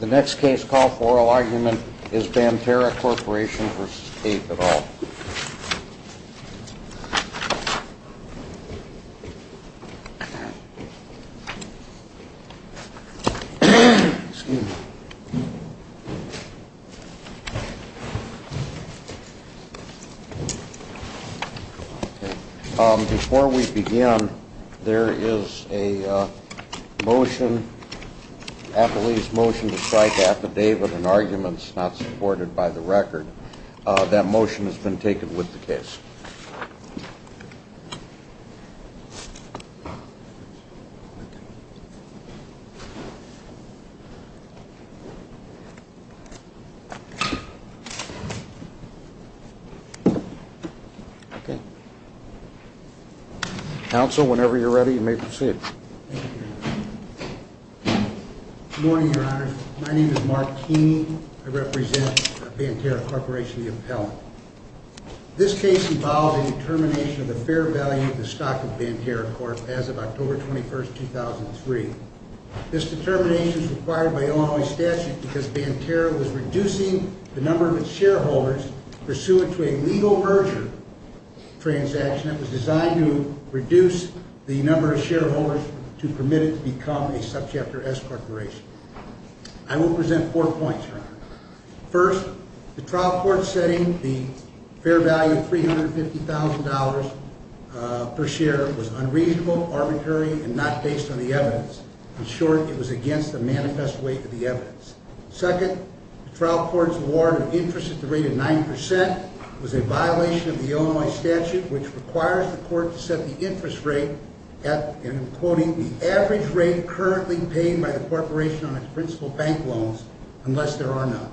The next case call for oral argument is Banterra Corp. v. Cape et al. Banterra Corp. v. Cape et al. Before we begin, there is a motion, Appellee's motion to cite the affidavit and arguments not supported by the record. That motion has been taken with the case. Council, whenever you're ready, you may proceed. Good morning, Your Honor. My name is Mark Keeney. I represent Banterra Corp. v. Cape et al. This case involves a determination of the fair value of the stock of Banterra Corp. as of October 21, 2003. This determination is required by Illinois statute because Banterra was reducing the number of its shareholders pursuant to a legal merger transaction that was designed to reduce the number of shareholders to permit it to become a subchapter S corporation. I will present four points, Your Honor. First, the trial court setting the fair value of $350,000 per share was unreasonable, arbitrary, and not based on the evidence. In short, it was against the manifest weight of the evidence. Second, the trial court's award of interest at the rate of 9% was a violation of the Illinois statute, which requires the court to set the interest rate at, and I'm quoting, the average rate currently paid by the corporation on its principal bank loans unless there are none.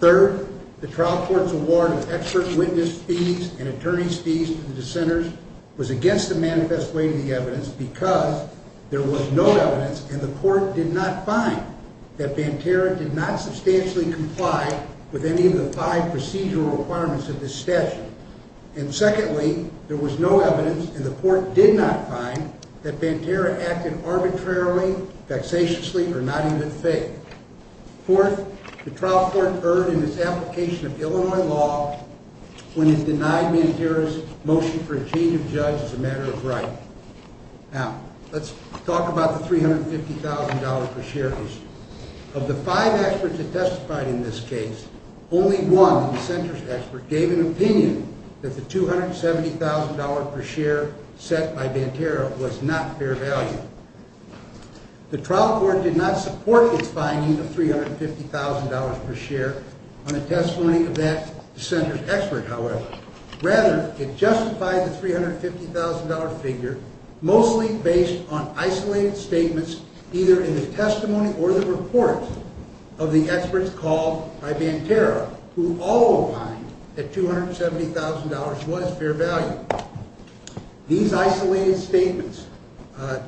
Third, the trial court's award of expert witness fees and attorney's fees to the dissenters was against the manifest weight of the evidence because there was no evidence and the court did not find that Banterra did not substantially comply with any of the five procedural requirements of this statute. And secondly, there was no evidence and the court did not find that Banterra acted arbitrarily, vexatiously, or not even fake. Fourth, the trial court erred in its application of Illinois law when it denied Banterra's motion for a change of judge as a matter of right. Now, let's talk about the $350,000 per share issue. Of the five experts that testified in this case, only one, the dissenter's expert, gave an opinion that the $270,000 per share set by Banterra was not fair value. The trial court did not support its finding of $350,000 per share on the testimony of that dissenter's expert, however. Rather, it justified the $350,000 figure, mostly based on isolated statements either in the testimony or the reports of the experts called by Banterra, who all opined that $270,000 was fair value. These isolated statements,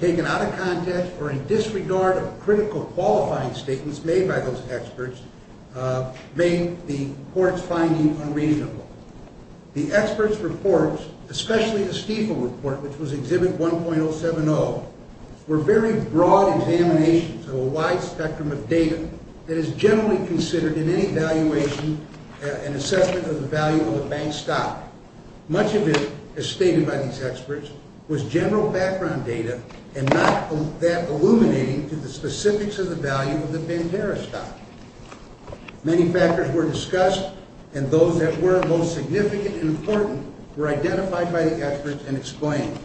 taken out of context or in disregard of critical qualifying statements made by those experts, made the court's finding unreasonable. The experts' reports, especially the Stiefel report, which was Exhibit 1.070, were very broad examinations of a wide spectrum of data that is generally considered in any valuation and assessment of the value of a bank's stock. Much of it, as stated by these experts, was general background data and not that illuminating to the specifics of the value of the Banterra stock. Many factors were discussed, and those that were most significant and important were identified by the experts and explained.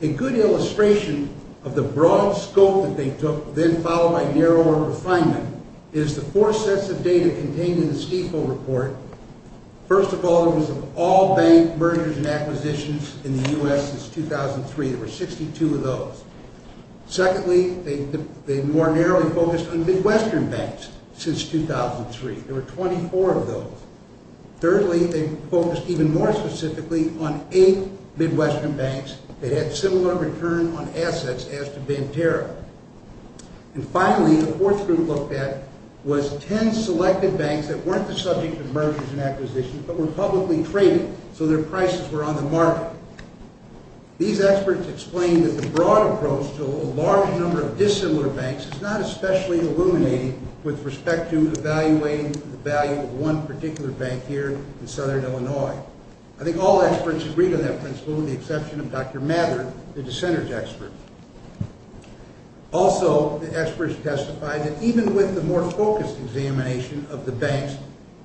A good illustration of the broad scope that they took, then followed by narrower refinement, is the four sets of data contained in the Stiefel report. First of all, it was of all bank mergers and acquisitions in the U.S. since 2003. There were 62 of those. Secondly, they more narrowly focused on Midwestern banks since 2003. There were 24 of those. Thirdly, they focused even more specifically on eight Midwestern banks that had similar return on assets as to Banterra. And finally, the fourth group looked at was ten selected banks that weren't the subject of mergers and acquisitions but were publicly traded, so their prices were on the market. These experts explained that the broad approach to a large number of dissimilar banks is not especially illuminating with respect to evaluating the value of one particular bank here in southern Illinois. I think all experts agreed on that principle, with the exception of Dr. Mather, the dissenters expert. Also, the experts testified that even with the more focused examination of the banks,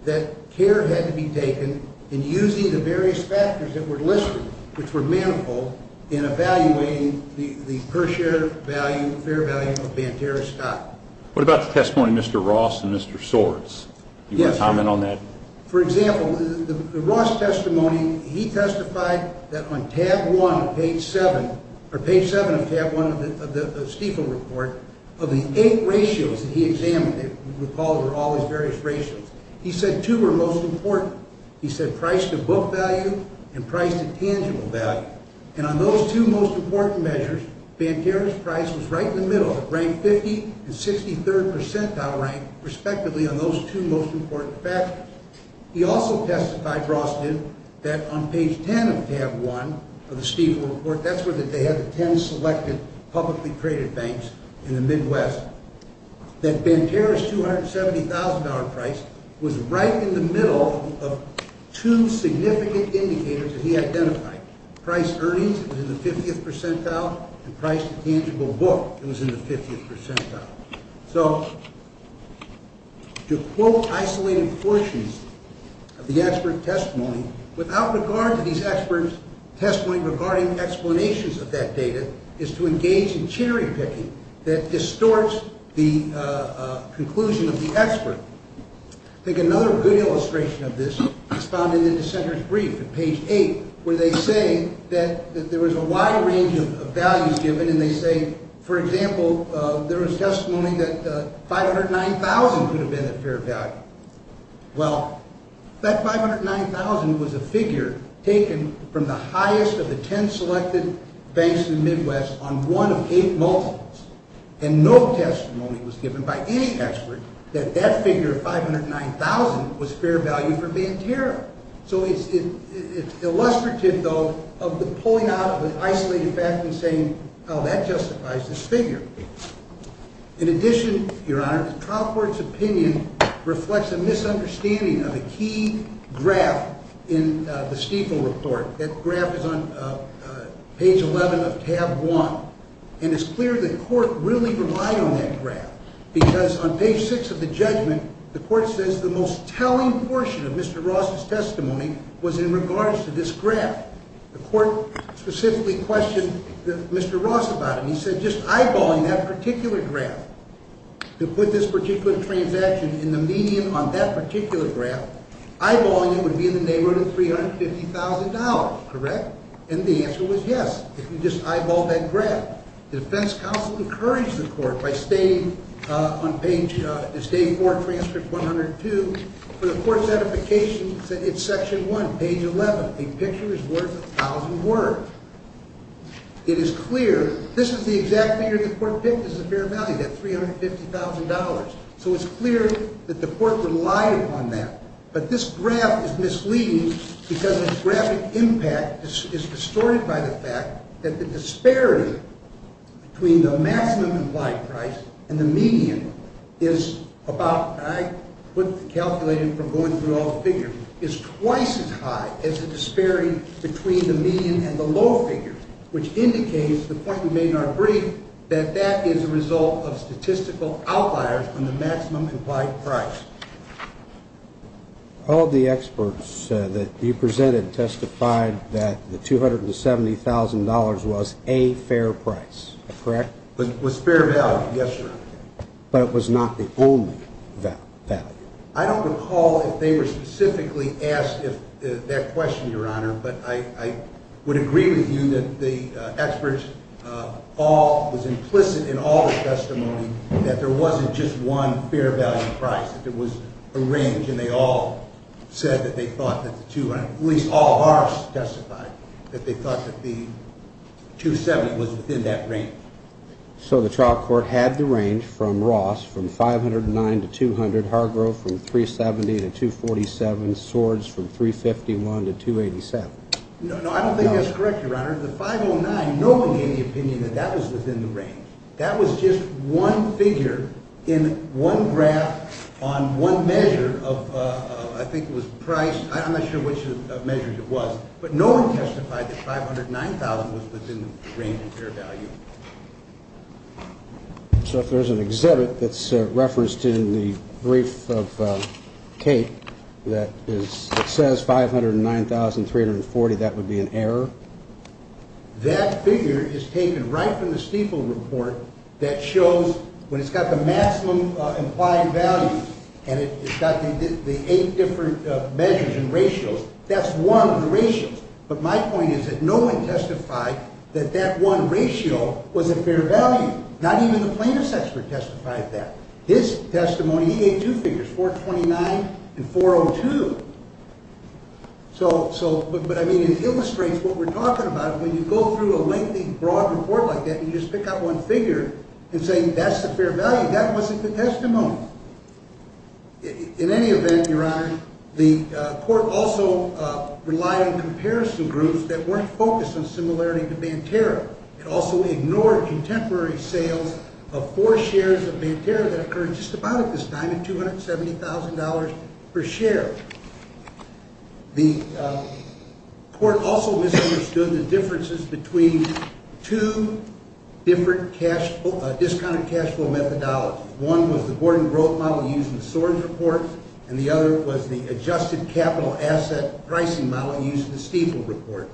that care had to be taken in using the various factors that were listed, which were manifold, in evaluating the per share value, fair value of Banterra's stock. What about the testimony of Mr. Ross and Mr. Swartz? Do you want to comment on that? For example, the Ross testimony, he testified that on page seven of tab one of the Stiefel report, of the eight ratios that he examined, he said two were most important. He said price-to-book value and price-to-tangible value. And on those two most important measures, Banterra's price was right in the middle, ranked 50th and 63rd percentile rank, respectively, on those two most important factors. He also testified, Ross did, that on page ten of tab one of the Stiefel report, that's where they had the ten selected publicly traded banks in the Midwest, that Banterra's $270,000 price was right in the middle of two significant indicators that he identified. Price earnings was in the 50th percentile, and price-to-tangible book was in the 50th percentile. So, to quote isolated portions of the expert testimony, without regard to these experts' testimony regarding explanations of that data, is to engage in cherry-picking that distorts the conclusion of the expert. I think another good illustration of this is found in the dissenter's brief at page eight, where they say that there was a wide range of values given, and they say, for example, there was testimony that 509,000 could have been a fair value. Well, that 509,000 was a figure taken from the highest of the ten selected banks in the Midwest on one of eight multiples, and no testimony was given by any expert that that figure of 509,000 was fair value for Banterra. So it's illustrative, though, of the pulling out of an isolated fact and saying, oh, that justifies this figure. In addition, Your Honor, the trial court's opinion reflects a misunderstanding of a key graph in the Stiefel report. That graph is on page 11 of tab one, and it's clear the court really relied on that graph, because on page six of the judgment, the court says the most telling portion of Mr. Ross' testimony was in regards to this graph. The court specifically questioned Mr. Ross about it, and he said, if you're just eyeballing that particular graph to put this particular transaction in the median on that particular graph, eyeballing it would be in the neighborhood of $350,000, correct? And the answer was yes. If you just eyeball that graph. The defense counsel encouraged the court by stating on page, the state court transcript 102, for the court's edification, it's section one, page 11. A picture is worth a thousand words. It is clear this is the exact figure the court picked as the fair value, that $350,000. So it's clear that the court relied upon that. But this graph is misleading because its graphic impact is distorted by the fact that the disparity between the maximum implied price and the median is about, and I calculated from going through all the figures, is twice as high as the disparity between the median and the low figure, which indicates, to the point you may not agree, that that is a result of statistical outliers on the maximum implied price. All the experts that you presented testified that the $270,000 was a fair price, correct? It was fair value, yes, sir. But it was not the only value. I don't recall if they were specifically asked that question, Your Honor, but I would agree with you that the experts all was implicit in all the testimony that there wasn't just one fair value price, that there was a range, and they all said that they thought that the two, at least all of ours testified, that they thought that the $270,000 was within that range. So the trial court had the range from Ross from $509,000 to $200,000, Hargrove from $370,000 to $247,000, Swords from $351,000 to $287,000. No, I don't think that's correct, Your Honor. The $509,000, no one gave the opinion that that was within the range. That was just one figure in one graph on one measure of, I think it was price, I'm not sure which measure it was, but no one testified that $509,000 was within the range of fair value. So if there's an exhibit that's referenced in the brief of Kate that says $509,340, that would be an error? That figure is taken right from the Stiefel report that shows, when it's got the maximum implied value and it's got the eight different measures and ratios, that's one of the ratios. But my point is that no one testified that that one ratio was a fair value. Not even the plaintiff's expert testified that. His testimony, he gave two figures, $429,000 and $402,000. But, I mean, it illustrates what we're talking about. When you go through a lengthy, broad report like that and you just pick out one figure and say that's the fair value, that wasn't the testimony. In any event, Your Honor, the court also relied on comparison groups that weren't focused on similarity to Banterra. It also ignored contemporary sales of four shares of Banterra that occurred just about at this time at $270,000 per share. The court also misunderstood the differences between two different discounted cash flow methodologies. One was the Gordon Grove model used in the Sorens report, and the other was the adjusted capital asset pricing model used in the Stiefel report.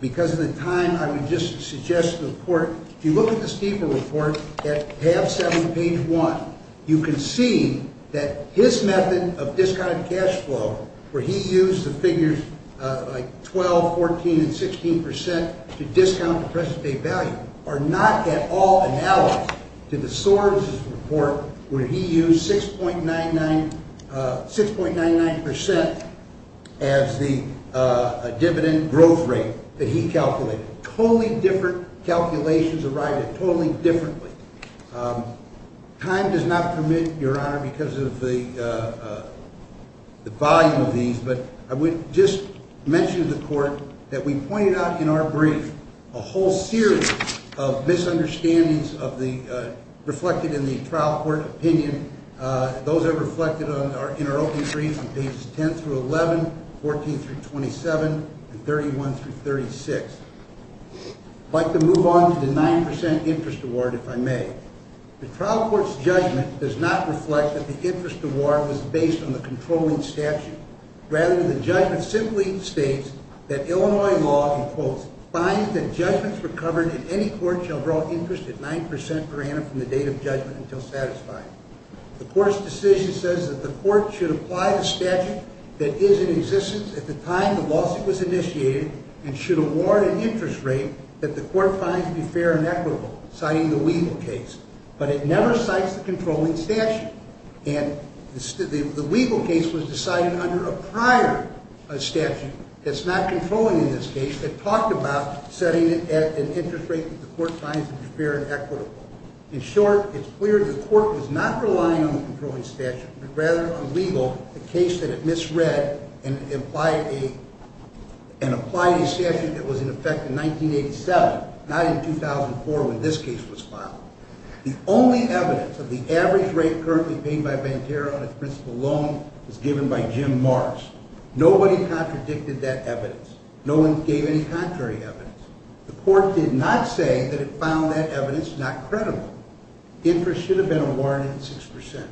Because of the time, I would just suggest to the court, if you look at the Stiefel report at tab 7, page 1, you can see that his method of discounted cash flow, where he used the figures like 12%, 14%, and 16% to discount the present-day value, are not at all analogous to the Sorens report, where he used 6.99% as the dividend growth rate that he calculated. Totally different calculations arrived at totally differently. Time does not permit, Your Honor, because of the volume of these, but I would just mention to the court that we pointed out in our brief a whole series of misunderstandings reflected in the trial court opinion. Those are reflected in our opening brief on pages 10-11, 14-27, and 31-36. I'd like to move on to the 9% interest award, if I may. The trial court's judgment does not reflect that the interest award was based on the controlling statute. Rather, the judgment simply states that Illinois law, in quotes, finds that judgments recovered in any court shall draw interest at 9% per annum from the date of judgment until satisfied. The court's decision says that the court should apply the statute that is in existence at the time the lawsuit was initiated and should award an interest rate that the court finds to be fair and equitable, citing the Weigel case, but it never cites the controlling statute. And the Weigel case was decided under a prior statute that's not controlling in this case that talked about setting an interest rate that the court finds to be fair and equitable. In short, it's clear the court was not relying on the controlling statute, but rather on Weigel, a case that it misread and applied a statute that was in effect in 1987, not in 2004 when this case was filed. The only evidence of the average rate currently paid by Venterra on its principal loan was given by Jim Morris. Nobody contradicted that evidence. No one gave any contrary evidence. The court did not say that it found that evidence not credible. Interest should have been awarded at 6%.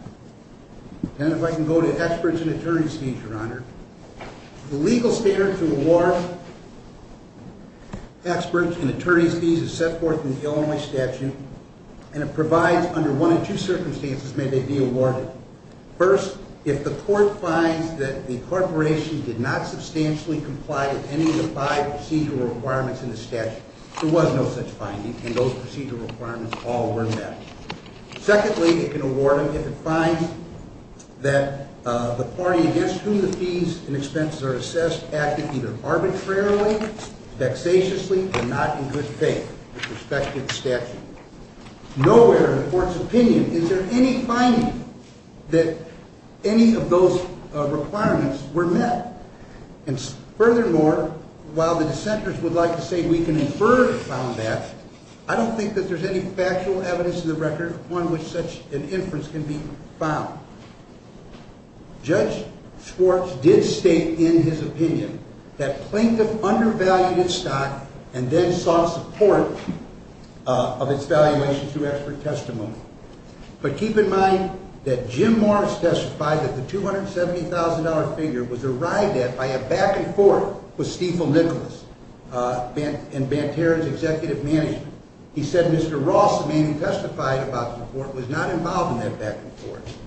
And if I can go to experts and attorneys' fees, Your Honor. The legal standard to award experts and attorneys' fees is set forth in the Illinois statute and it provides under one of two circumstances may they be awarded. First, if the court finds that the corporation did not substantially comply with any of the five procedural requirements in the statute, there was no such finding and those procedural requirements all were met. Secondly, it can award them if it finds that the party against whom the fees and expenses are assessed acted either arbitrarily, vexatiously, or not in good faith with respect to the statute. Nowhere in the court's opinion is there any finding that any of those requirements were met. And furthermore, while the dissenters would like to say we can infer it found that, I don't think that there's any factual evidence in the record on which such an inference can be found. Judge Schwartz did state in his opinion that Plaintiff undervalued its stock and then sought support of its valuation through expert testimony. But keep in mind that Jim Morris testified that the $270,000 figure was arrived at by a back and forth with Stiefel Nicholas and Banterra's executive management. He said Mr. Ross, the man who testified about the report, was not involved in that back and forth.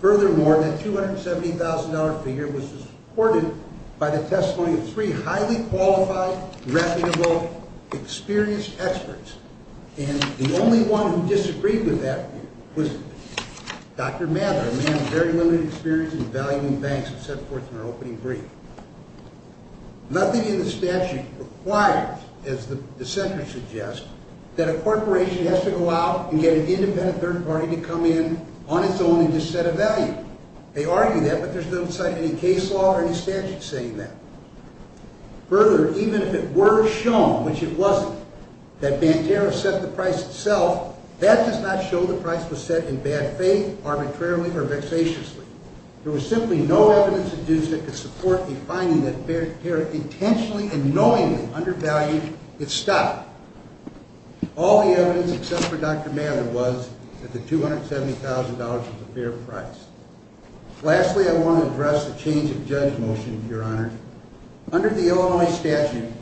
Furthermore, that $270,000 figure was supported by the testimony of three highly qualified, reputable, experienced experts. And the only one who disagreed with that was Dr. Mather, a man of very limited experience in valuing banks who set forth in her opening brief. Nothing in the statute requires, as the dissenters suggest, that a corporation has to go out and get an independent third party to come in on its own and just set a value. They argue that, but there's no sight of any case law or any statute saying that. Further, even if it were shown, which it wasn't, that Banterra set the price itself, that does not show the price was set in bad faith, arbitrarily or vexatiously. There was simply no evidence to support the finding that Banterra intentionally and knowingly undervalued its stock. All the evidence except for Dr. Mather was that the $270,000 was a fair price. Lastly, I want to address the change of judge motion, Your Honor. Under the Illinois statute,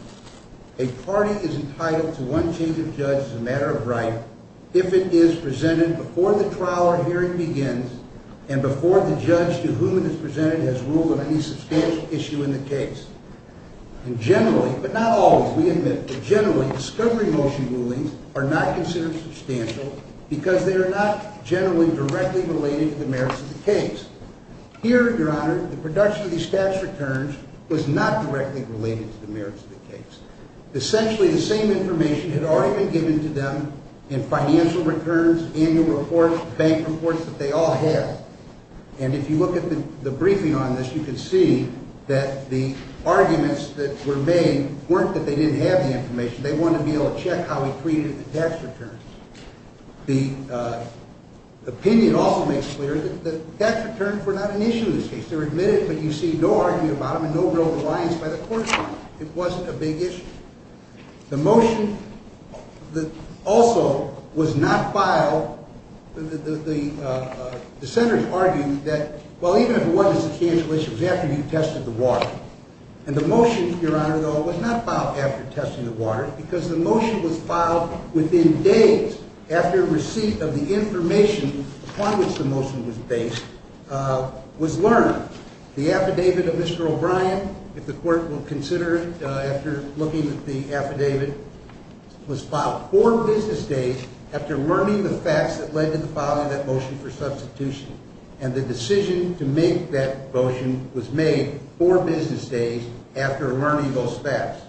a party is entitled to one change of judge as a matter of right if it is presented before the trial or hearing begins and before the judge to whom it is presented has ruled on any substantial issue in the case. Generally, but not always, we admit, but generally, discovery motion rulings are not considered substantial because they are not generally directly related to the merits of the case. Here, Your Honor, the production of these tax returns was not directly related to the merits of the case. Essentially, the same information had already been given to them in financial returns, annual reports, bank reports that they all have. And if you look at the briefing on this, you can see that the arguments that were made weren't that they didn't have the information. They wanted to be able to check how we treated the tax returns. The opinion also makes clear that tax returns were not an issue in this case. They were admitted, but you see no argument about them and no real reliance by the court. It wasn't a big issue. The motion also was not filed. The senators argued that, well, even if it was a substantial issue, it was after you tested the water. And the motion, Your Honor, though, was not filed after testing the water because the motion was filed within days after receipt of the information upon which the motion was based was learned. The affidavit of Mr. O'Brien, if the court will consider it after looking at the affidavit, was filed four business days after learning the facts that led to the filing of that motion for substitution. And the decision to make that motion was made four business days after learning those facts.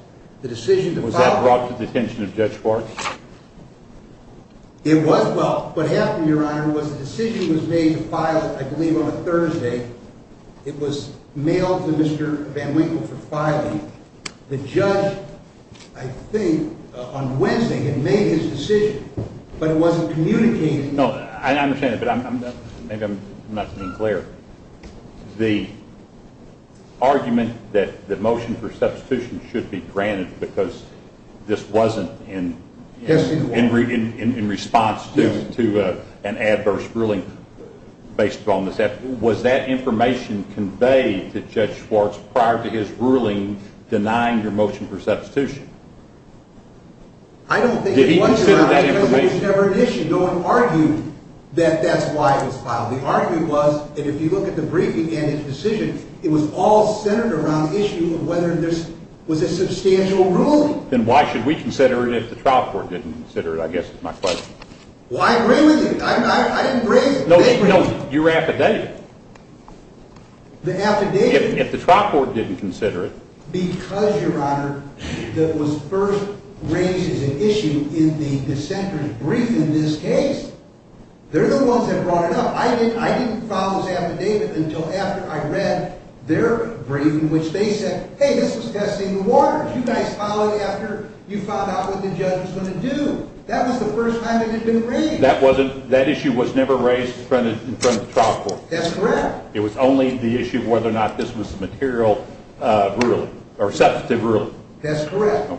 Was that brought to the attention of Judge Clark? It was, well, what happened, Your Honor, was the decision was made to file, I believe, on a Thursday. It was mailed to Mr. Van Winkle for filing. The judge, I think, on Wednesday had made his decision, but it wasn't communicated. No, I understand that, but maybe I'm not being clear. The argument that the motion for substitution should be granted because this wasn't in response to an adverse ruling based upon this, was that information conveyed to Judge Schwartz prior to his ruling denying your motion for substitution? I don't think it was, Your Honor, because it was never an issue. No one argued that that's why it was filed. The argument was that if you look at the briefing and his decision, it was all centered around the issue of whether this was a substantial ruling. Then why should we consider it if the trial court didn't consider it, I guess is my question. Well, I agree with you. I didn't raise it. No, no, your affidavit. The affidavit. If the trial court didn't consider it. Because, Your Honor, that was first raised as an issue in the dissenter's brief in this case. They're the ones that brought it up. I didn't file this affidavit until after I read their briefing, which they said, hey, this was testing the waters. You guys filed it after you found out what the judge was going to do. That was the first time it had been raised. That issue was never raised in front of the trial court. That's correct. It was only the issue of whether or not this was a material ruling or substantive ruling. That's correct.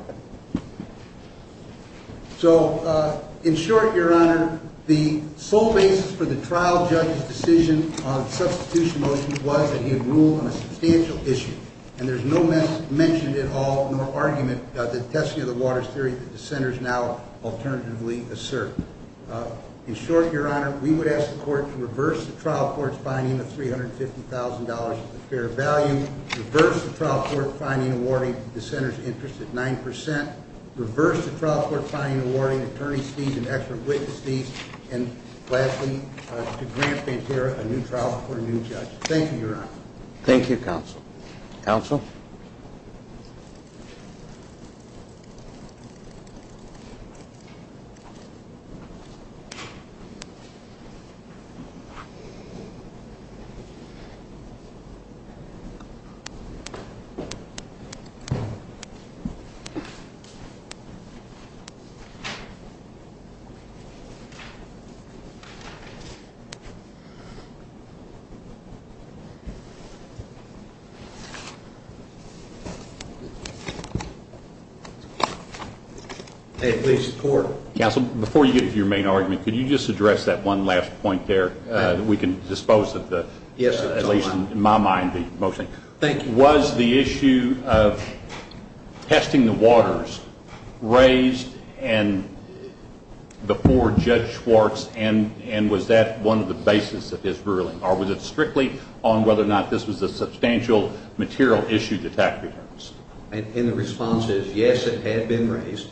So, in short, Your Honor, the sole basis for the trial judge's decision on the substitution motion was that he had ruled on a substantial issue. And there's no mention at all, nor argument, of the testing of the waters theory that the dissenters now alternatively assert. In short, Your Honor, we would ask the court to reverse the trial court's finding of $350,000 of fair value, reverse the trial court's finding awarding the dissenter's interest at 9%, reverse the trial court's finding awarding attorney's fees and expert witness fees, and lastly, to grant Pantera a new trial for a new judge. Thank you, Your Honor. Thank you, counsel. Counsel? Thank you. Please, the court. Counsel, before you get to your main argument, could you just address that one last point there that we can dispose of the Yes, Your Honor. At least in my mind, mostly. Thank you. Was the issue of testing the waters raised before Judge Schwartz, and was that one of the basis of his ruling? Or was it strictly on whether or not this was a substantial material issue to tax returns? And the response is, yes, it had been raised,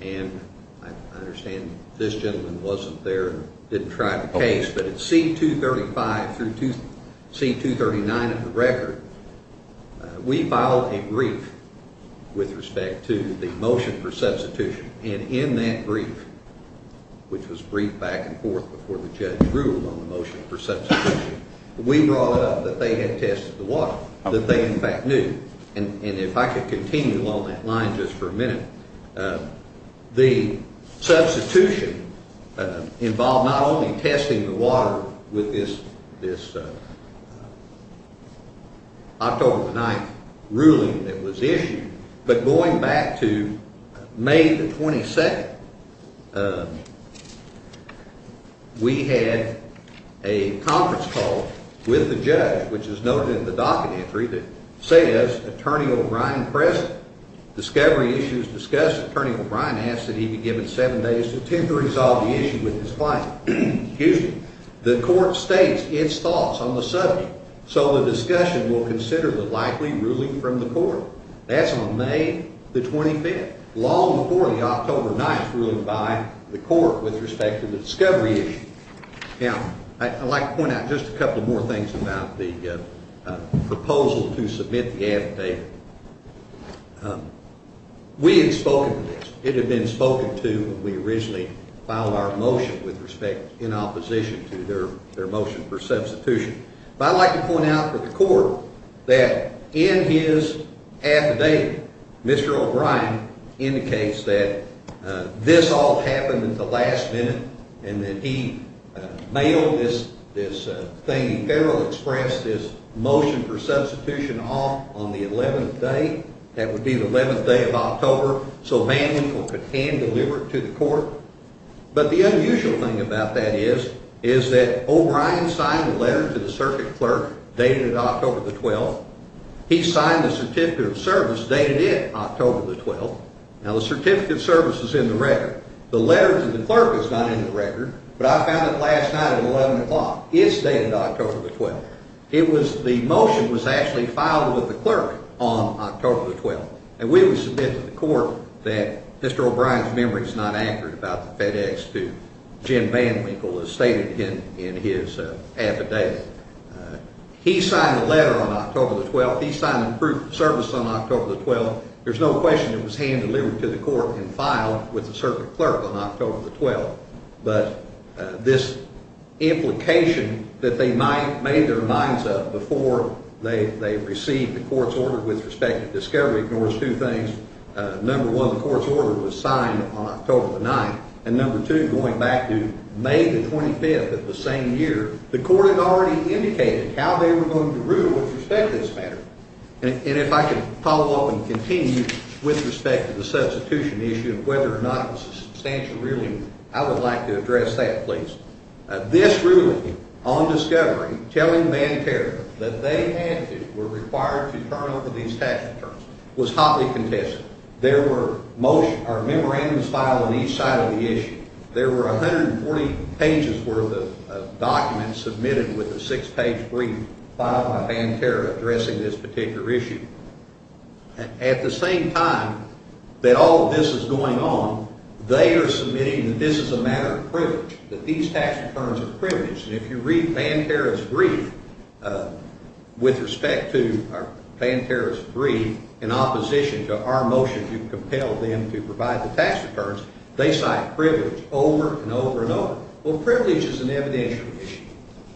and I understand this gentleman wasn't there and didn't try the case, but at C-235 through C-239 of the record, we filed a brief with respect to the motion for substitution, and in that brief, which was briefed back and forth before the judge ruled on the motion for substitution, we brought up that they had tested the water, that they, in fact, knew. And if I could continue on that line just for a minute, the substitution involved not only testing the water with this October 9th ruling that was issued, but going back to May the 22nd, we had a conference call with the judge, which is noted in the docket entry, that says, Attorney O'Brien present. Discovery issues discussed. Attorney O'Brien asked that he be given seven days to attempt to resolve the issue with his client. The court states its thoughts on the subject, so the discussion will consider the likely ruling from the court. That's on May the 25th, long before the October 9th ruling by the court with respect to the discovery issue. Now, I'd like to point out just a couple more things about the proposal to submit the affidavit. We had spoken to this. It had been spoken to when we originally filed our motion with respect in opposition to their motion for substitution. But I'd like to point out to the court that in his affidavit, Mr. O'Brien indicates that this all happened at the last minute, and that he mailed this thing, he fairly expressed his motion for substitution off on the 11th day. That would be the 11th day of October, so Manley could hand deliver it to the court. But the unusual thing about that is that O'Brien signed a letter to the circuit clerk dated October the 12th. He signed the certificate of service dated October the 12th. Now, the certificate of service is in the record. The letter to the clerk is not in the record, but I found it last night at 11 o'clock. It's dated October the 12th. The motion was actually filed with the clerk on October the 12th, and we would submit to the court that Mr. O'Brien's memory is not accurate about the FedEx to Jim VanWinkle, as stated in his affidavit. He signed the letter on October the 12th. He signed the proof of service on October the 12th. There's no question it was hand-delivered to the court and filed with the circuit clerk on October the 12th. But this implication that they made their minds up before they received the court's order with respect to discovery ignores two things. Number one, the court's order was signed on October the 9th, and number two, going back to May the 25th of the same year, the court had already indicated how they were going to rule with respect to this matter. And if I could follow up and continue with respect to the substitution issue and whether or not it was a substantial ruling, I would like to address that, please. This ruling on discovery telling Banterra that they had to, were required to turn over these tax returns was hotly contested. There were motion or memorandums filed on each side of the issue. There were 140 pages worth of documents submitted with a six-page brief filed by Banterra addressing this particular issue. At the same time that all of this is going on, they are submitting that this is a matter of privilege, that these tax returns are privileged. And if you read Banterra's brief with respect to Banterra's brief in opposition to our motion to compel them to provide the tax returns, they cite privilege over and over and over. Well, privilege is an evidential issue.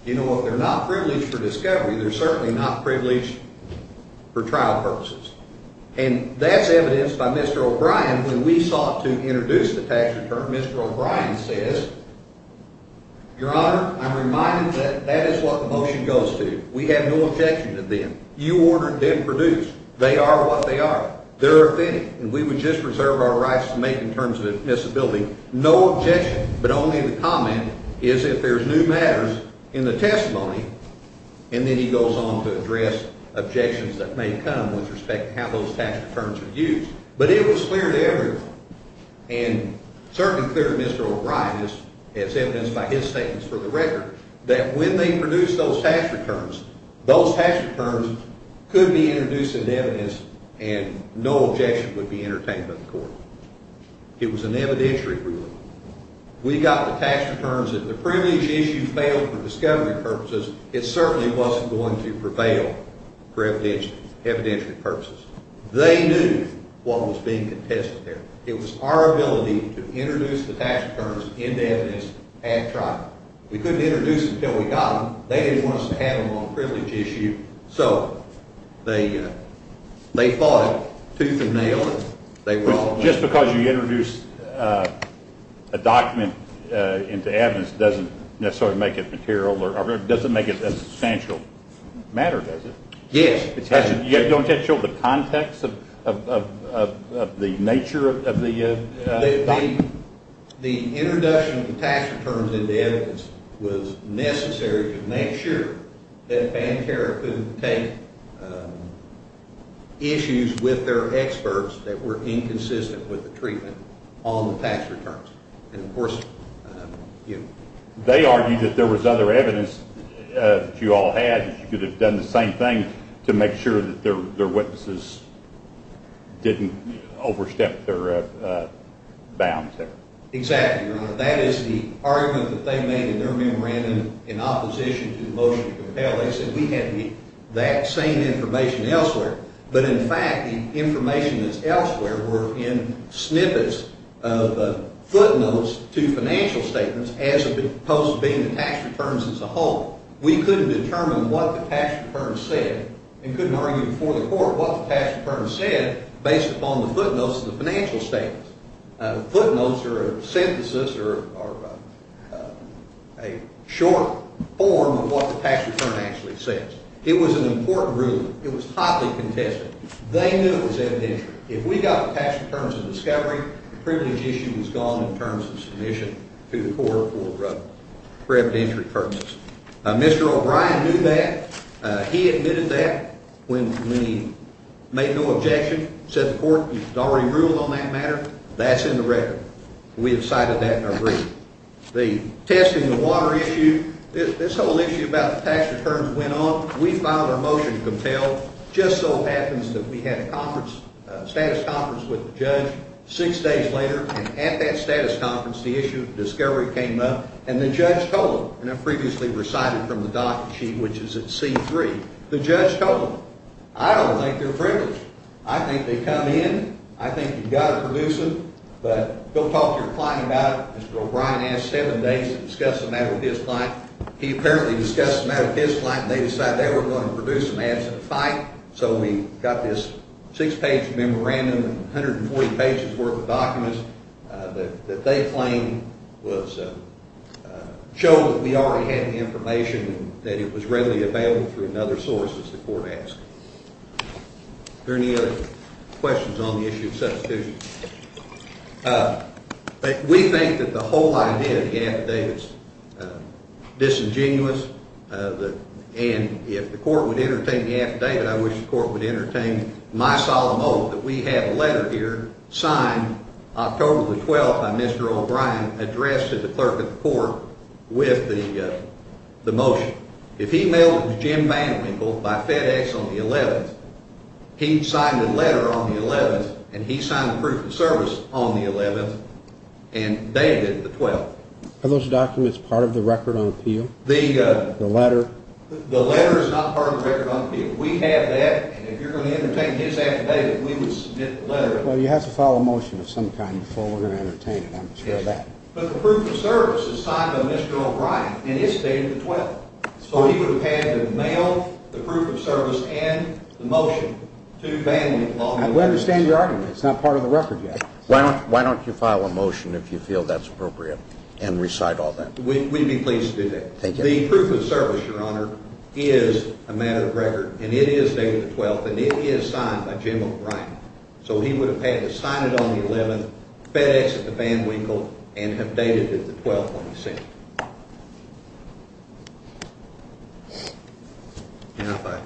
You know, if they're not privileged for discovery, they're certainly not privileged for trial purposes. And that's evidenced by Mr. O'Brien. When we sought to introduce the tax return, Mr. O'Brien says, Your Honor, I'm reminded that that is what the motion goes to. We have no objection to them. You ordered them produced. They are what they are. They're authentic. And we would just reserve our rights to make in terms of admissibility. No objection, but only the comment is if there's new matters in the testimony. And then he goes on to address objections that may come with respect to how those tax returns are used. But it was clear to everyone, and certainly clear to Mr. O'Brien, as evidenced by his statements for the record, that when they produced those tax returns, those tax returns could be introduced into evidence, and no objection would be entertained by the court. It was an evidentiary ruling. We got the tax returns. If the privilege issue failed for discovery purposes, it certainly wasn't going to prevail for evidentiary purposes. They knew what was being contested there. It was our ability to introduce the tax returns into evidence at trial. We couldn't introduce them until we got them. They didn't want us to have them on a privilege issue. So they fought tooth and nail. Just because you introduce a document into evidence doesn't necessarily make it material or doesn't make it a substantial matter, does it? Yes. Don't that show the context of the nature of the document? The introduction of the tax returns into evidence was necessary to make sure that Bankera couldn't take issues with their experts that were inconsistent with the treatment on the tax returns. And, of course, you know. They argued that there was other evidence that you all had, to make sure that their witnesses didn't overstep their bounds there. Exactly, Your Honor. That is the argument that they made in their memorandum in opposition to the motion to compel. They said we had that same information elsewhere. But, in fact, the information that's elsewhere were in snippets of footnotes to financial statements as opposed to being the tax returns as a whole. We couldn't determine what the tax return said and couldn't argue before the court what the tax return said based upon the footnotes of the financial statements. Footnotes are a synthesis or a short form of what the tax return actually says. It was an important ruling. It was hotly contested. They knew it was evidentiary. If we got the tax returns of discovery, the privilege issue was gone in terms of submission to the court for preventative purposes. Mr. O'Brien knew that. He admitted that when he made no objection, said the court had already ruled on that matter. That's in the record. We have cited that in our brief. The test in the water issue, this whole issue about the tax returns went on. We filed our motion to compel. Just so happens that we had a conference, a status conference with the judge six days later. And at that status conference, the issue of discovery came up. And the judge told them, and I previously recited from the doc sheet, which is at C3, the judge told them, I don't think they're privileged. I think they come in. I think you've got to produce them. But go talk to your client about it. Mr. O'Brien asked seven days to discuss the matter with his client. He apparently discussed the matter with his client, and they decided they were going to produce them after the fight. So we got this six-page memorandum, 140 pages' worth of documents that they claimed was – showed that we already had the information and that it was readily available through another source, as the court asked. Are there any other questions on the issue of substitution? We think that the whole idea of the affidavit is disingenuous, and if the court would entertain the affidavit, I wish the court would entertain my solemn oath that we have a letter here signed October the 12th by Mr. O'Brien addressed to the clerk of the court with the motion. If he mailed it to Jim VanWinkle by FedEx on the 11th, he signed the letter on the 11th, and he signed the proof of service on the 11th and dated it the 12th. Are those documents part of the record on appeal, the letter? The letter is not part of the record on appeal. We have that, and if you're going to entertain his affidavit, we would submit the letter. Well, you have to file a motion of some kind before we're going to entertain it. I'm sure of that. But the proof of service is signed by Mr. O'Brien, and it's dated the 12th. So he would have had to mail the proof of service and the motion to VanWinkle on the 11th. I understand your argument. It's not part of the record yet. Why don't you file a motion if you feel that's appropriate and recite all that? We'd be pleased to do that. Thank you. The proof of service, Your Honor, is a matter of record, and it is dated the 12th, and it is signed by Jim O'Brien. So he would have had to sign it on the 11th, FedEx it to VanWinkle, and have dated it the 12th on the 16th. Now, if I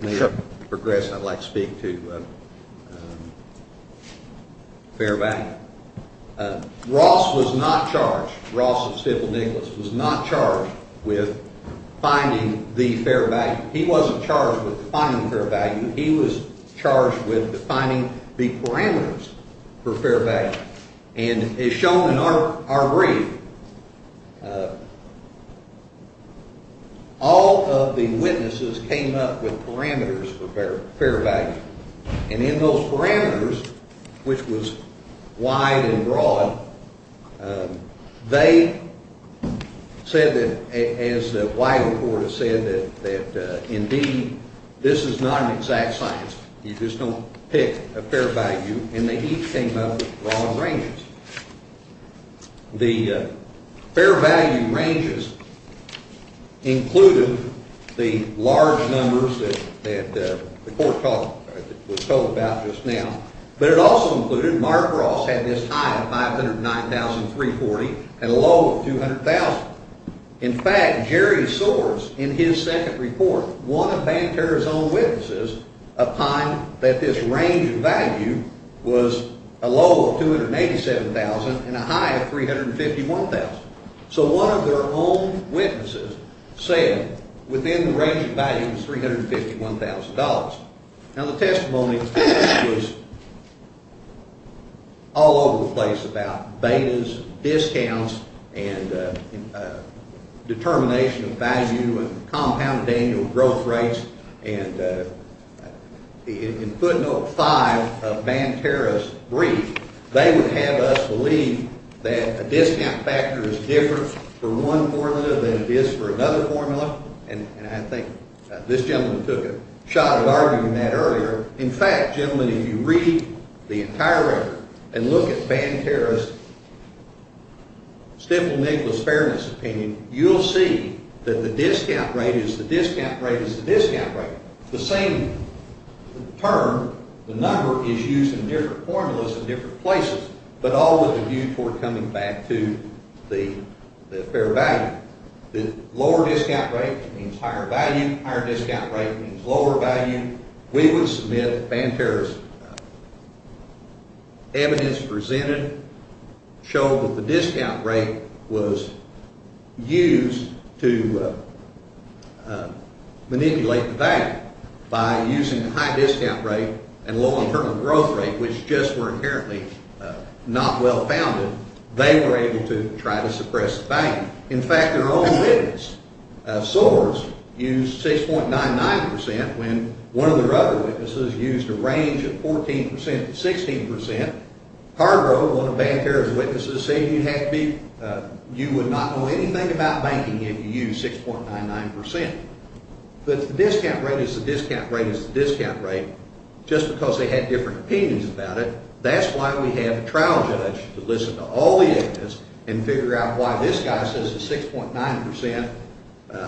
may progress, I'd like to speak to fair value. Ross was not charged, Ross and Stifel Nicholas, was not charged with finding the fair value. He wasn't charged with finding the fair value. He was charged with finding the parameters for fair value. And as shown in our brief, all of the witnesses came up with parameters for fair value. And in those parameters, which was wide and broad, they said that, as the wider court has said, that indeed this is not an exact science. You just don't pick a fair value, and they each came up with broad ranges. The fair value ranges included the large numbers that the court was told about just now, but it also included, Mark Ross had this high of $509,340 and a low of $200,000. In fact, Jerry Soares, in his second report, one of Banker's own witnesses, opined that this range of value was a low of $287,000 and a high of $351,000. So one of their own witnesses said within the range of value was $351,000. Now the testimony was all over the place about betas, discounts, and determination of value and compounded annual growth rates. And in footnote 5 of Banterra's brief, they would have us believe that a discount factor is different for one formula than it is for another formula. And I think this gentleman took a shot at arguing that earlier. In fact, gentlemen, if you read the entire record and look at Banterra's Stifel-Niklas Fairness opinion, you'll see that the discount rate is the discount rate is the discount rate. The same term, the number, is used in different formulas in different places, but all with a view toward coming back to the fair value. Now, the lower discount rate means higher value. Higher discount rate means lower value. We would submit Banterra's evidence presented showed that the discount rate was used to manipulate the bank. By using the high discount rate and low internal growth rate, which just were inherently not well founded, they were able to try to suppress the bank. In fact, their own witness, Soares, used 6.99% when one of their other witnesses used a range of 14% to 16%. Hargrove, one of Banterra's witnesses, said you would not know anything about banking if you used 6.99%. But the discount rate is the discount rate is the discount rate. Just because they had different opinions about it, that's why we have a trial judge to listen to all the evidence and figure out why this guy says it's 6.99%.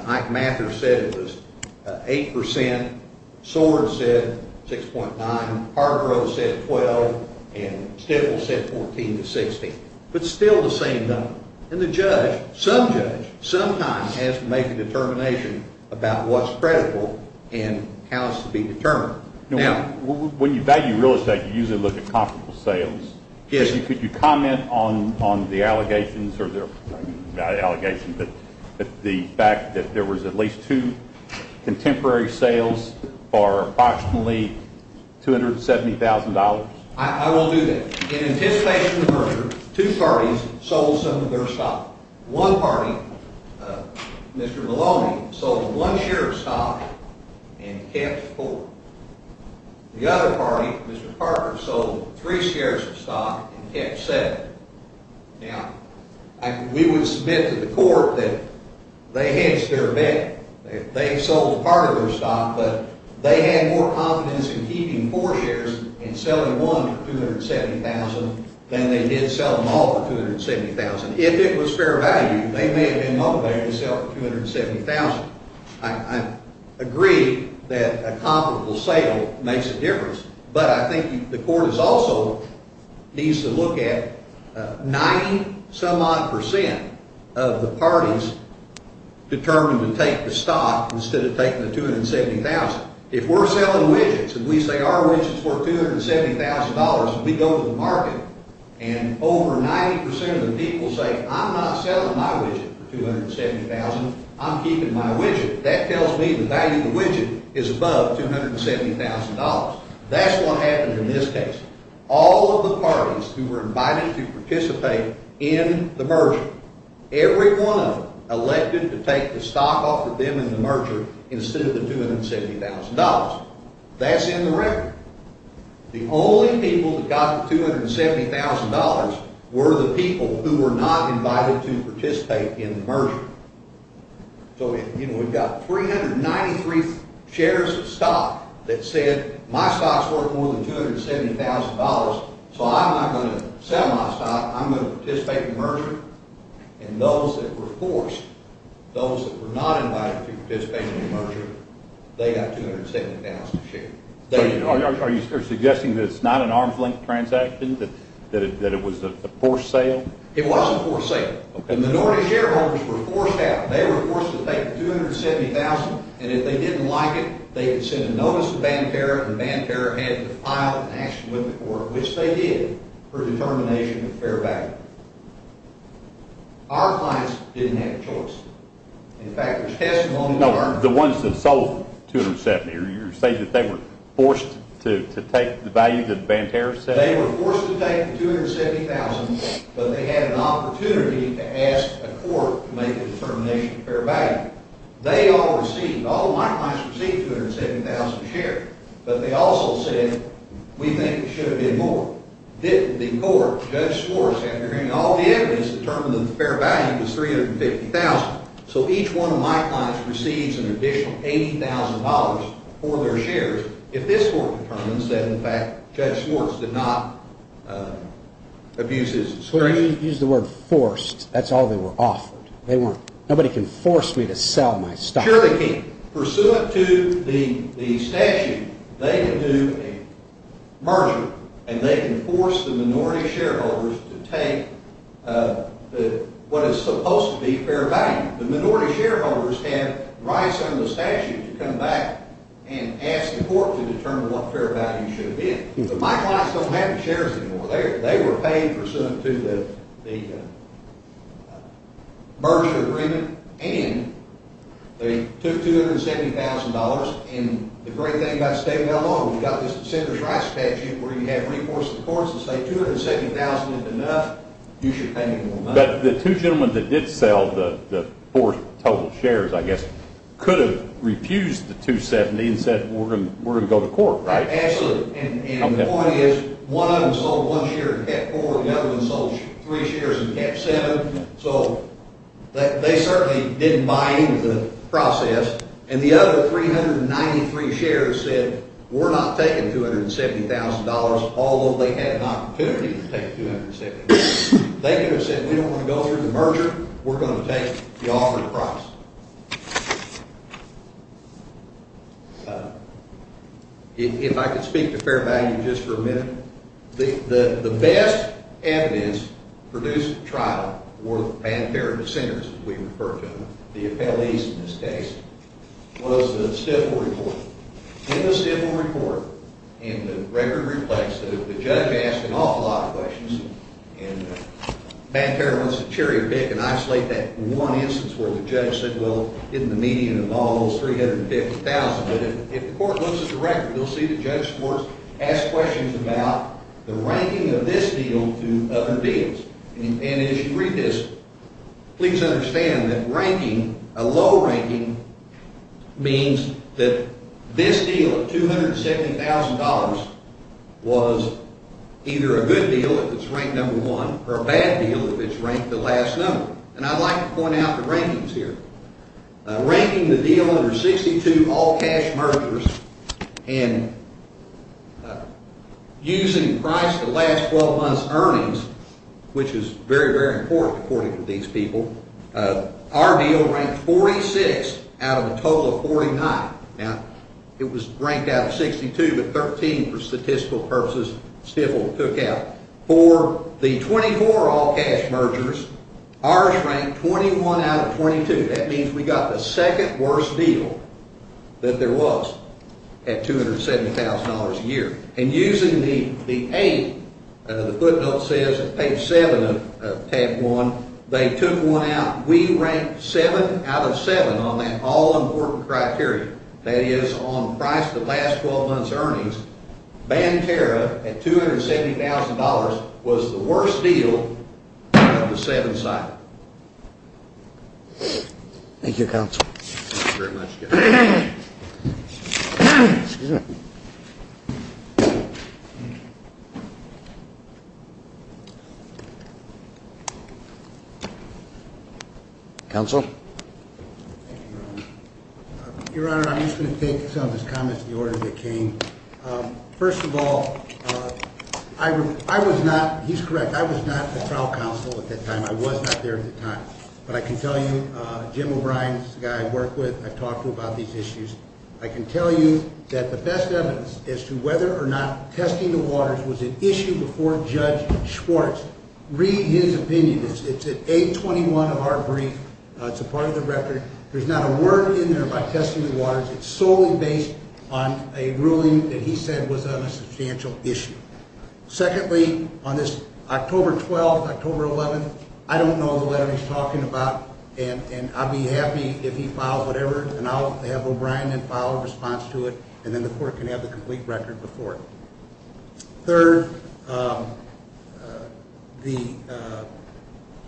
Ike Mather said it was 8%. Soares said 6.99%. Hargrove said 12%. And Stifel said 14% to 16%. But still the same number. And the judge, some judge, sometimes has to make a determination about what's credible and how it's to be determined. When you value real estate, you usually look at comparable sales. Could you comment on the allegations or the fact that there was at least two contemporary sales for approximately $270,000? I will do that. In anticipation of the merger, two parties sold some of their stock. One party, Mr. Maloney, sold one share of stock and kept four. The other party, Mr. Parker, sold three shares of stock and kept seven. Now, we would submit to the court that they hedged their bet. They sold part of their stock, but they had more confidence in keeping four shares and selling one for $270,000 than they did sell them all for $270,000. If it was fair value, they may have been motivated to sell for $270,000. I agree that a comparable sale makes a difference, but I think the court also needs to look at 90-some-odd percent of the parties determined to take the stock instead of taking the $270,000. If we're selling widgets and we say our widgets were $270,000 and we go to the market and over 90% of the people say, I'm not selling my widget for $270,000. I'm keeping my widget. That tells me the value of the widget is above $270,000. That's what happened in this case. All of the parties who were invited to participate in the merger, every one of them elected to take the stock off of them in the merger instead of the $270,000. That's in the record. The only people that got the $270,000 were the people who were not invited to participate in the merger. We've got 393 shares of stock that said my stock is worth more than $270,000, so I'm not going to sell my stock. I'm going to participate in the merger. And those that were forced, those that were not invited to participate in the merger, they got $270,000 to share. Are you suggesting that it's not an arm's length transaction, that it was a forced sale? It was a forced sale. The minority shareholders were forced out. They were forced to take the $270,000, and if they didn't like it, they would send a notice to Banterra, and Banterra had to file an action with the court, which they did, for determination of fair value. Our clients didn't have a choice. In fact, there's testimonies. No, the ones that sold $270,000. Are you saying that they were forced to take the value that Banterra said? They were forced to take the $270,000, but they had an opportunity to ask a court to make a determination of fair value. They all received, all of my clients received $270,000 to share, but they also said, we think it should have been more. The court, Judge Schwartz, after hearing all the evidence, determined that the fair value was $350,000, so each one of my clients receives an additional $80,000 for their shares. If this court determines that, in fact, Judge Schwartz did not abuse his discretion. When you use the word forced, that's all they were offered. They weren't, nobody can force me to sell my stock. Sure they can. Pursuant to the statute, they can do a merger, and they can force the minority shareholders to take what is supposed to be fair value. The minority shareholders have rights under the statute to come back and ask the court to determine what fair value should have been. But my clients don't have the shares anymore. They were paid pursuant to the merger agreement, and they took $270,000, and the great thing about state law, we've got this Senator's Rights Statute where you have to reinforce the courts and say $270,000 is enough, you should pay me more money. But the two gentlemen that did sell the four total shares, I guess, could have refused the $270,000 and said we're going to go to court, right? Absolutely. And the point is, one of them sold one share in Cat 4, the other one sold three shares in Cat 7, so they certainly didn't buy into the process, and the other 393 shares said we're not taking $270,000, they could have said we don't want to go through the merger, we're going to take the offer to price. If I could speak to fair value just for a minute. The best evidence for this trial were the pantheric dissenters, as we refer to them, the appellees in this case, was the Stifel Report. In the Stifel Report, and the record reflects that if the judge asked an awful lot of questions, and the panther wants to cherry pick and isolate that one instance where the judge said, well, isn't the median of all those $350,000, but if the court looks at the record, you'll see that judge courts ask questions about the ranking of this deal to other deals. And as you read this, please understand that a low ranking means that this deal of $270,000 was either a good deal if it's ranked number one, or a bad deal if it's ranked the last number. And I'd like to point out the rankings here. Ranking the deal under 62 all-cash mergers and using price to last 12 months earnings, which is very, very important according to these people, our deal ranked 46 out of a total of 49. Now, it was ranked out of 62, but 13 for statistical purposes Stifel took out. For the 24 all-cash mergers, ours ranked 21 out of 22. That means we got the second worst deal that there was at $270,000 a year. And using the 8, the footnote says, page 7 of tab 1, they took one out. We ranked 7 out of 7 on that all-important criteria. That is, on price to last 12 months earnings, Bancara at $270,000 was the worst deal out of the 7 sites. Thank you, Counsel. Thank you very much, Jeff. Counsel? Your Honor, I'm just going to take some of his comments in the order they came. First of all, I was not, he's correct, I was not a trial counsel at that time. I was not there at the time. But I can tell you, Jim O'Brien, the guy I work with, I've talked to about these issues. I can tell you that the best evidence as to whether or not testing the waters was an issue before Judge Schwartz. Read his opinion. It's at 821 of our brief. It's a part of the record. There's not a word in there about testing the waters. It's solely based on a ruling that he said was on a substantial issue. Secondly, on this October 12th, October 11th, I don't know the letter he's talking about. And I'll be happy if he files whatever, and I'll have O'Brien then file a response to it, and then the court can have the complete record before it. Third, the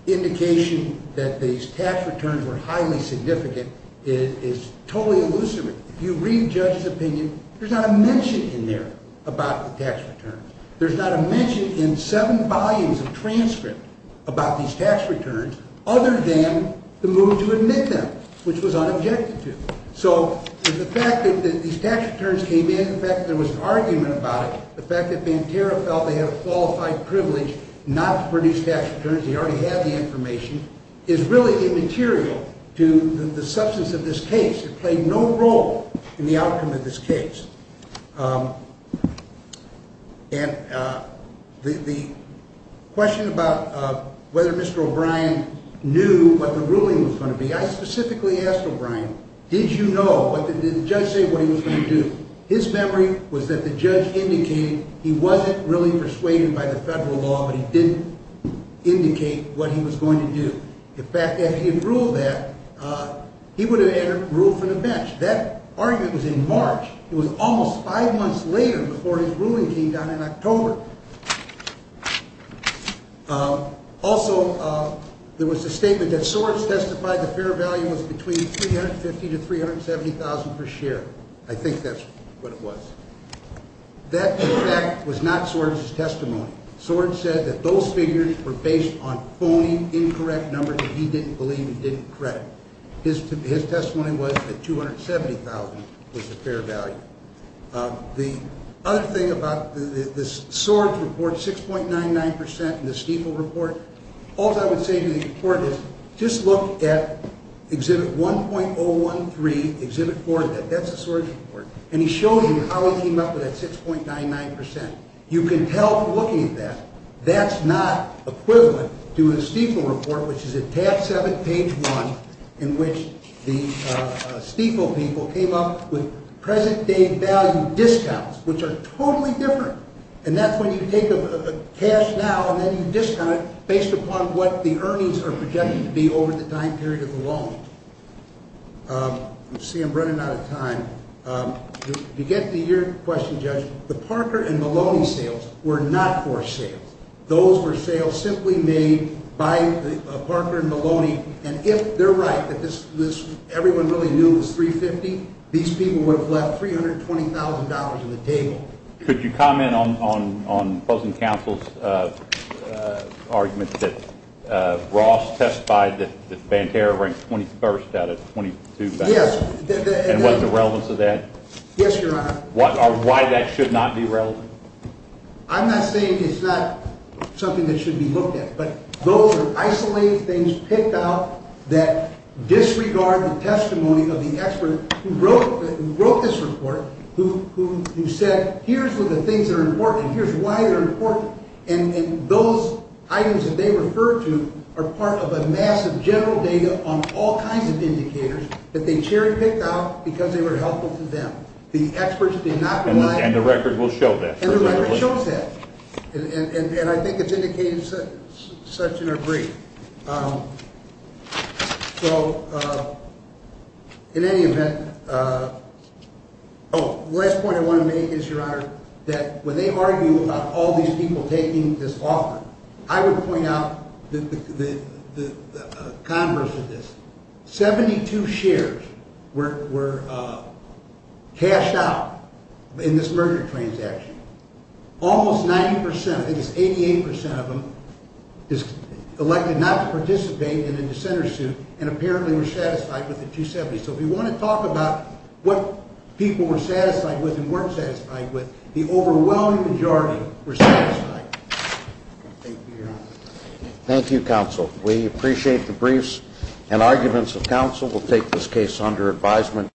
indication that these tax returns were highly significant is totally illusory. If you read Judge's opinion, there's not a mention in there about the tax returns. There's not a mention in seven volumes of transcript about these tax returns, other than the move to admit them, which was unobjected to. So the fact that these tax returns came in, the fact that there was an argument about it, the fact that Banterra felt they had a qualified privilege not to produce tax returns, he already had the information, is really immaterial to the substance of this case. It played no role in the outcome of this case. And the question about whether Mr. O'Brien knew what the ruling was going to be, I specifically asked O'Brien, did you know? Did the judge say what he was going to do? His memory was that the judge indicated he wasn't really persuaded by the federal law, but he didn't indicate what he was going to do. The fact that he had ruled that, he would have had a roof and a bench. That argument was in March. It was almost five months later before his ruling came down in October. Also, there was a statement that Swartz testified the fair value was between $350,000 to $370,000 per share. I think that's what it was. That, in fact, was not Swartz's testimony. Swartz said that those figures were based on phony, incorrect numbers that he didn't believe he didn't credit. His testimony was that $270,000 was the fair value. The other thing about the Swartz report, 6.99% in the Stiefel report, all I would say to the report is just look at Exhibit 1.013, Exhibit 4, that's the Swartz report, and he shows you how he came up with that 6.99%. You can tell from looking at that, that's not equivalent to a Stiefel report, which is at tab 7, page 1, in which the Stiefel people came up with present-day value discounts, which are totally different, and that's when you take cash now and then you discount it based upon what the earnings are projected to be over the time period of the loan. You see I'm running out of time. To get to your question, Judge, the Parker and Maloney sales were not for sale. Those were sales simply made by Parker and Maloney, and if they're right, that everyone really knew it was $350,000, these people would have left $320,000 in the table. Could you comment on Puzzling Counsel's argument that Ross testified that Banterra ranked 21st out of 22 banks? Yes. And was there relevance to that? Yes, Your Honor. Why that should not be relevant? I'm not saying it's not something that should be looked at, but those are isolated things picked out that disregard the testimony of the expert who wrote this report, who said here's what the things that are important, here's why they're important, and those items that they refer to are part of a massive general data on all kinds of indicators that they cherry-picked out because they were helpful to them. And the record will show that. And the record shows that, and I think it's indicated such in her brief. So in any event, oh, the last point I want to make is, Your Honor, that when they argue about all these people taking this offer, I would point out the converse of this. Seventy-two shares were cashed out in this merger transaction. Almost 90 percent, I think it's 88 percent of them, is elected not to participate in the dissenter suit and apparently were satisfied with the 270. So if you want to talk about what people were satisfied with and weren't satisfied with, the overwhelming majority were satisfied. Thank you, Your Honor. Thank you, Counsel. We appreciate the briefs and arguments of counsel. We'll take this case under advisement.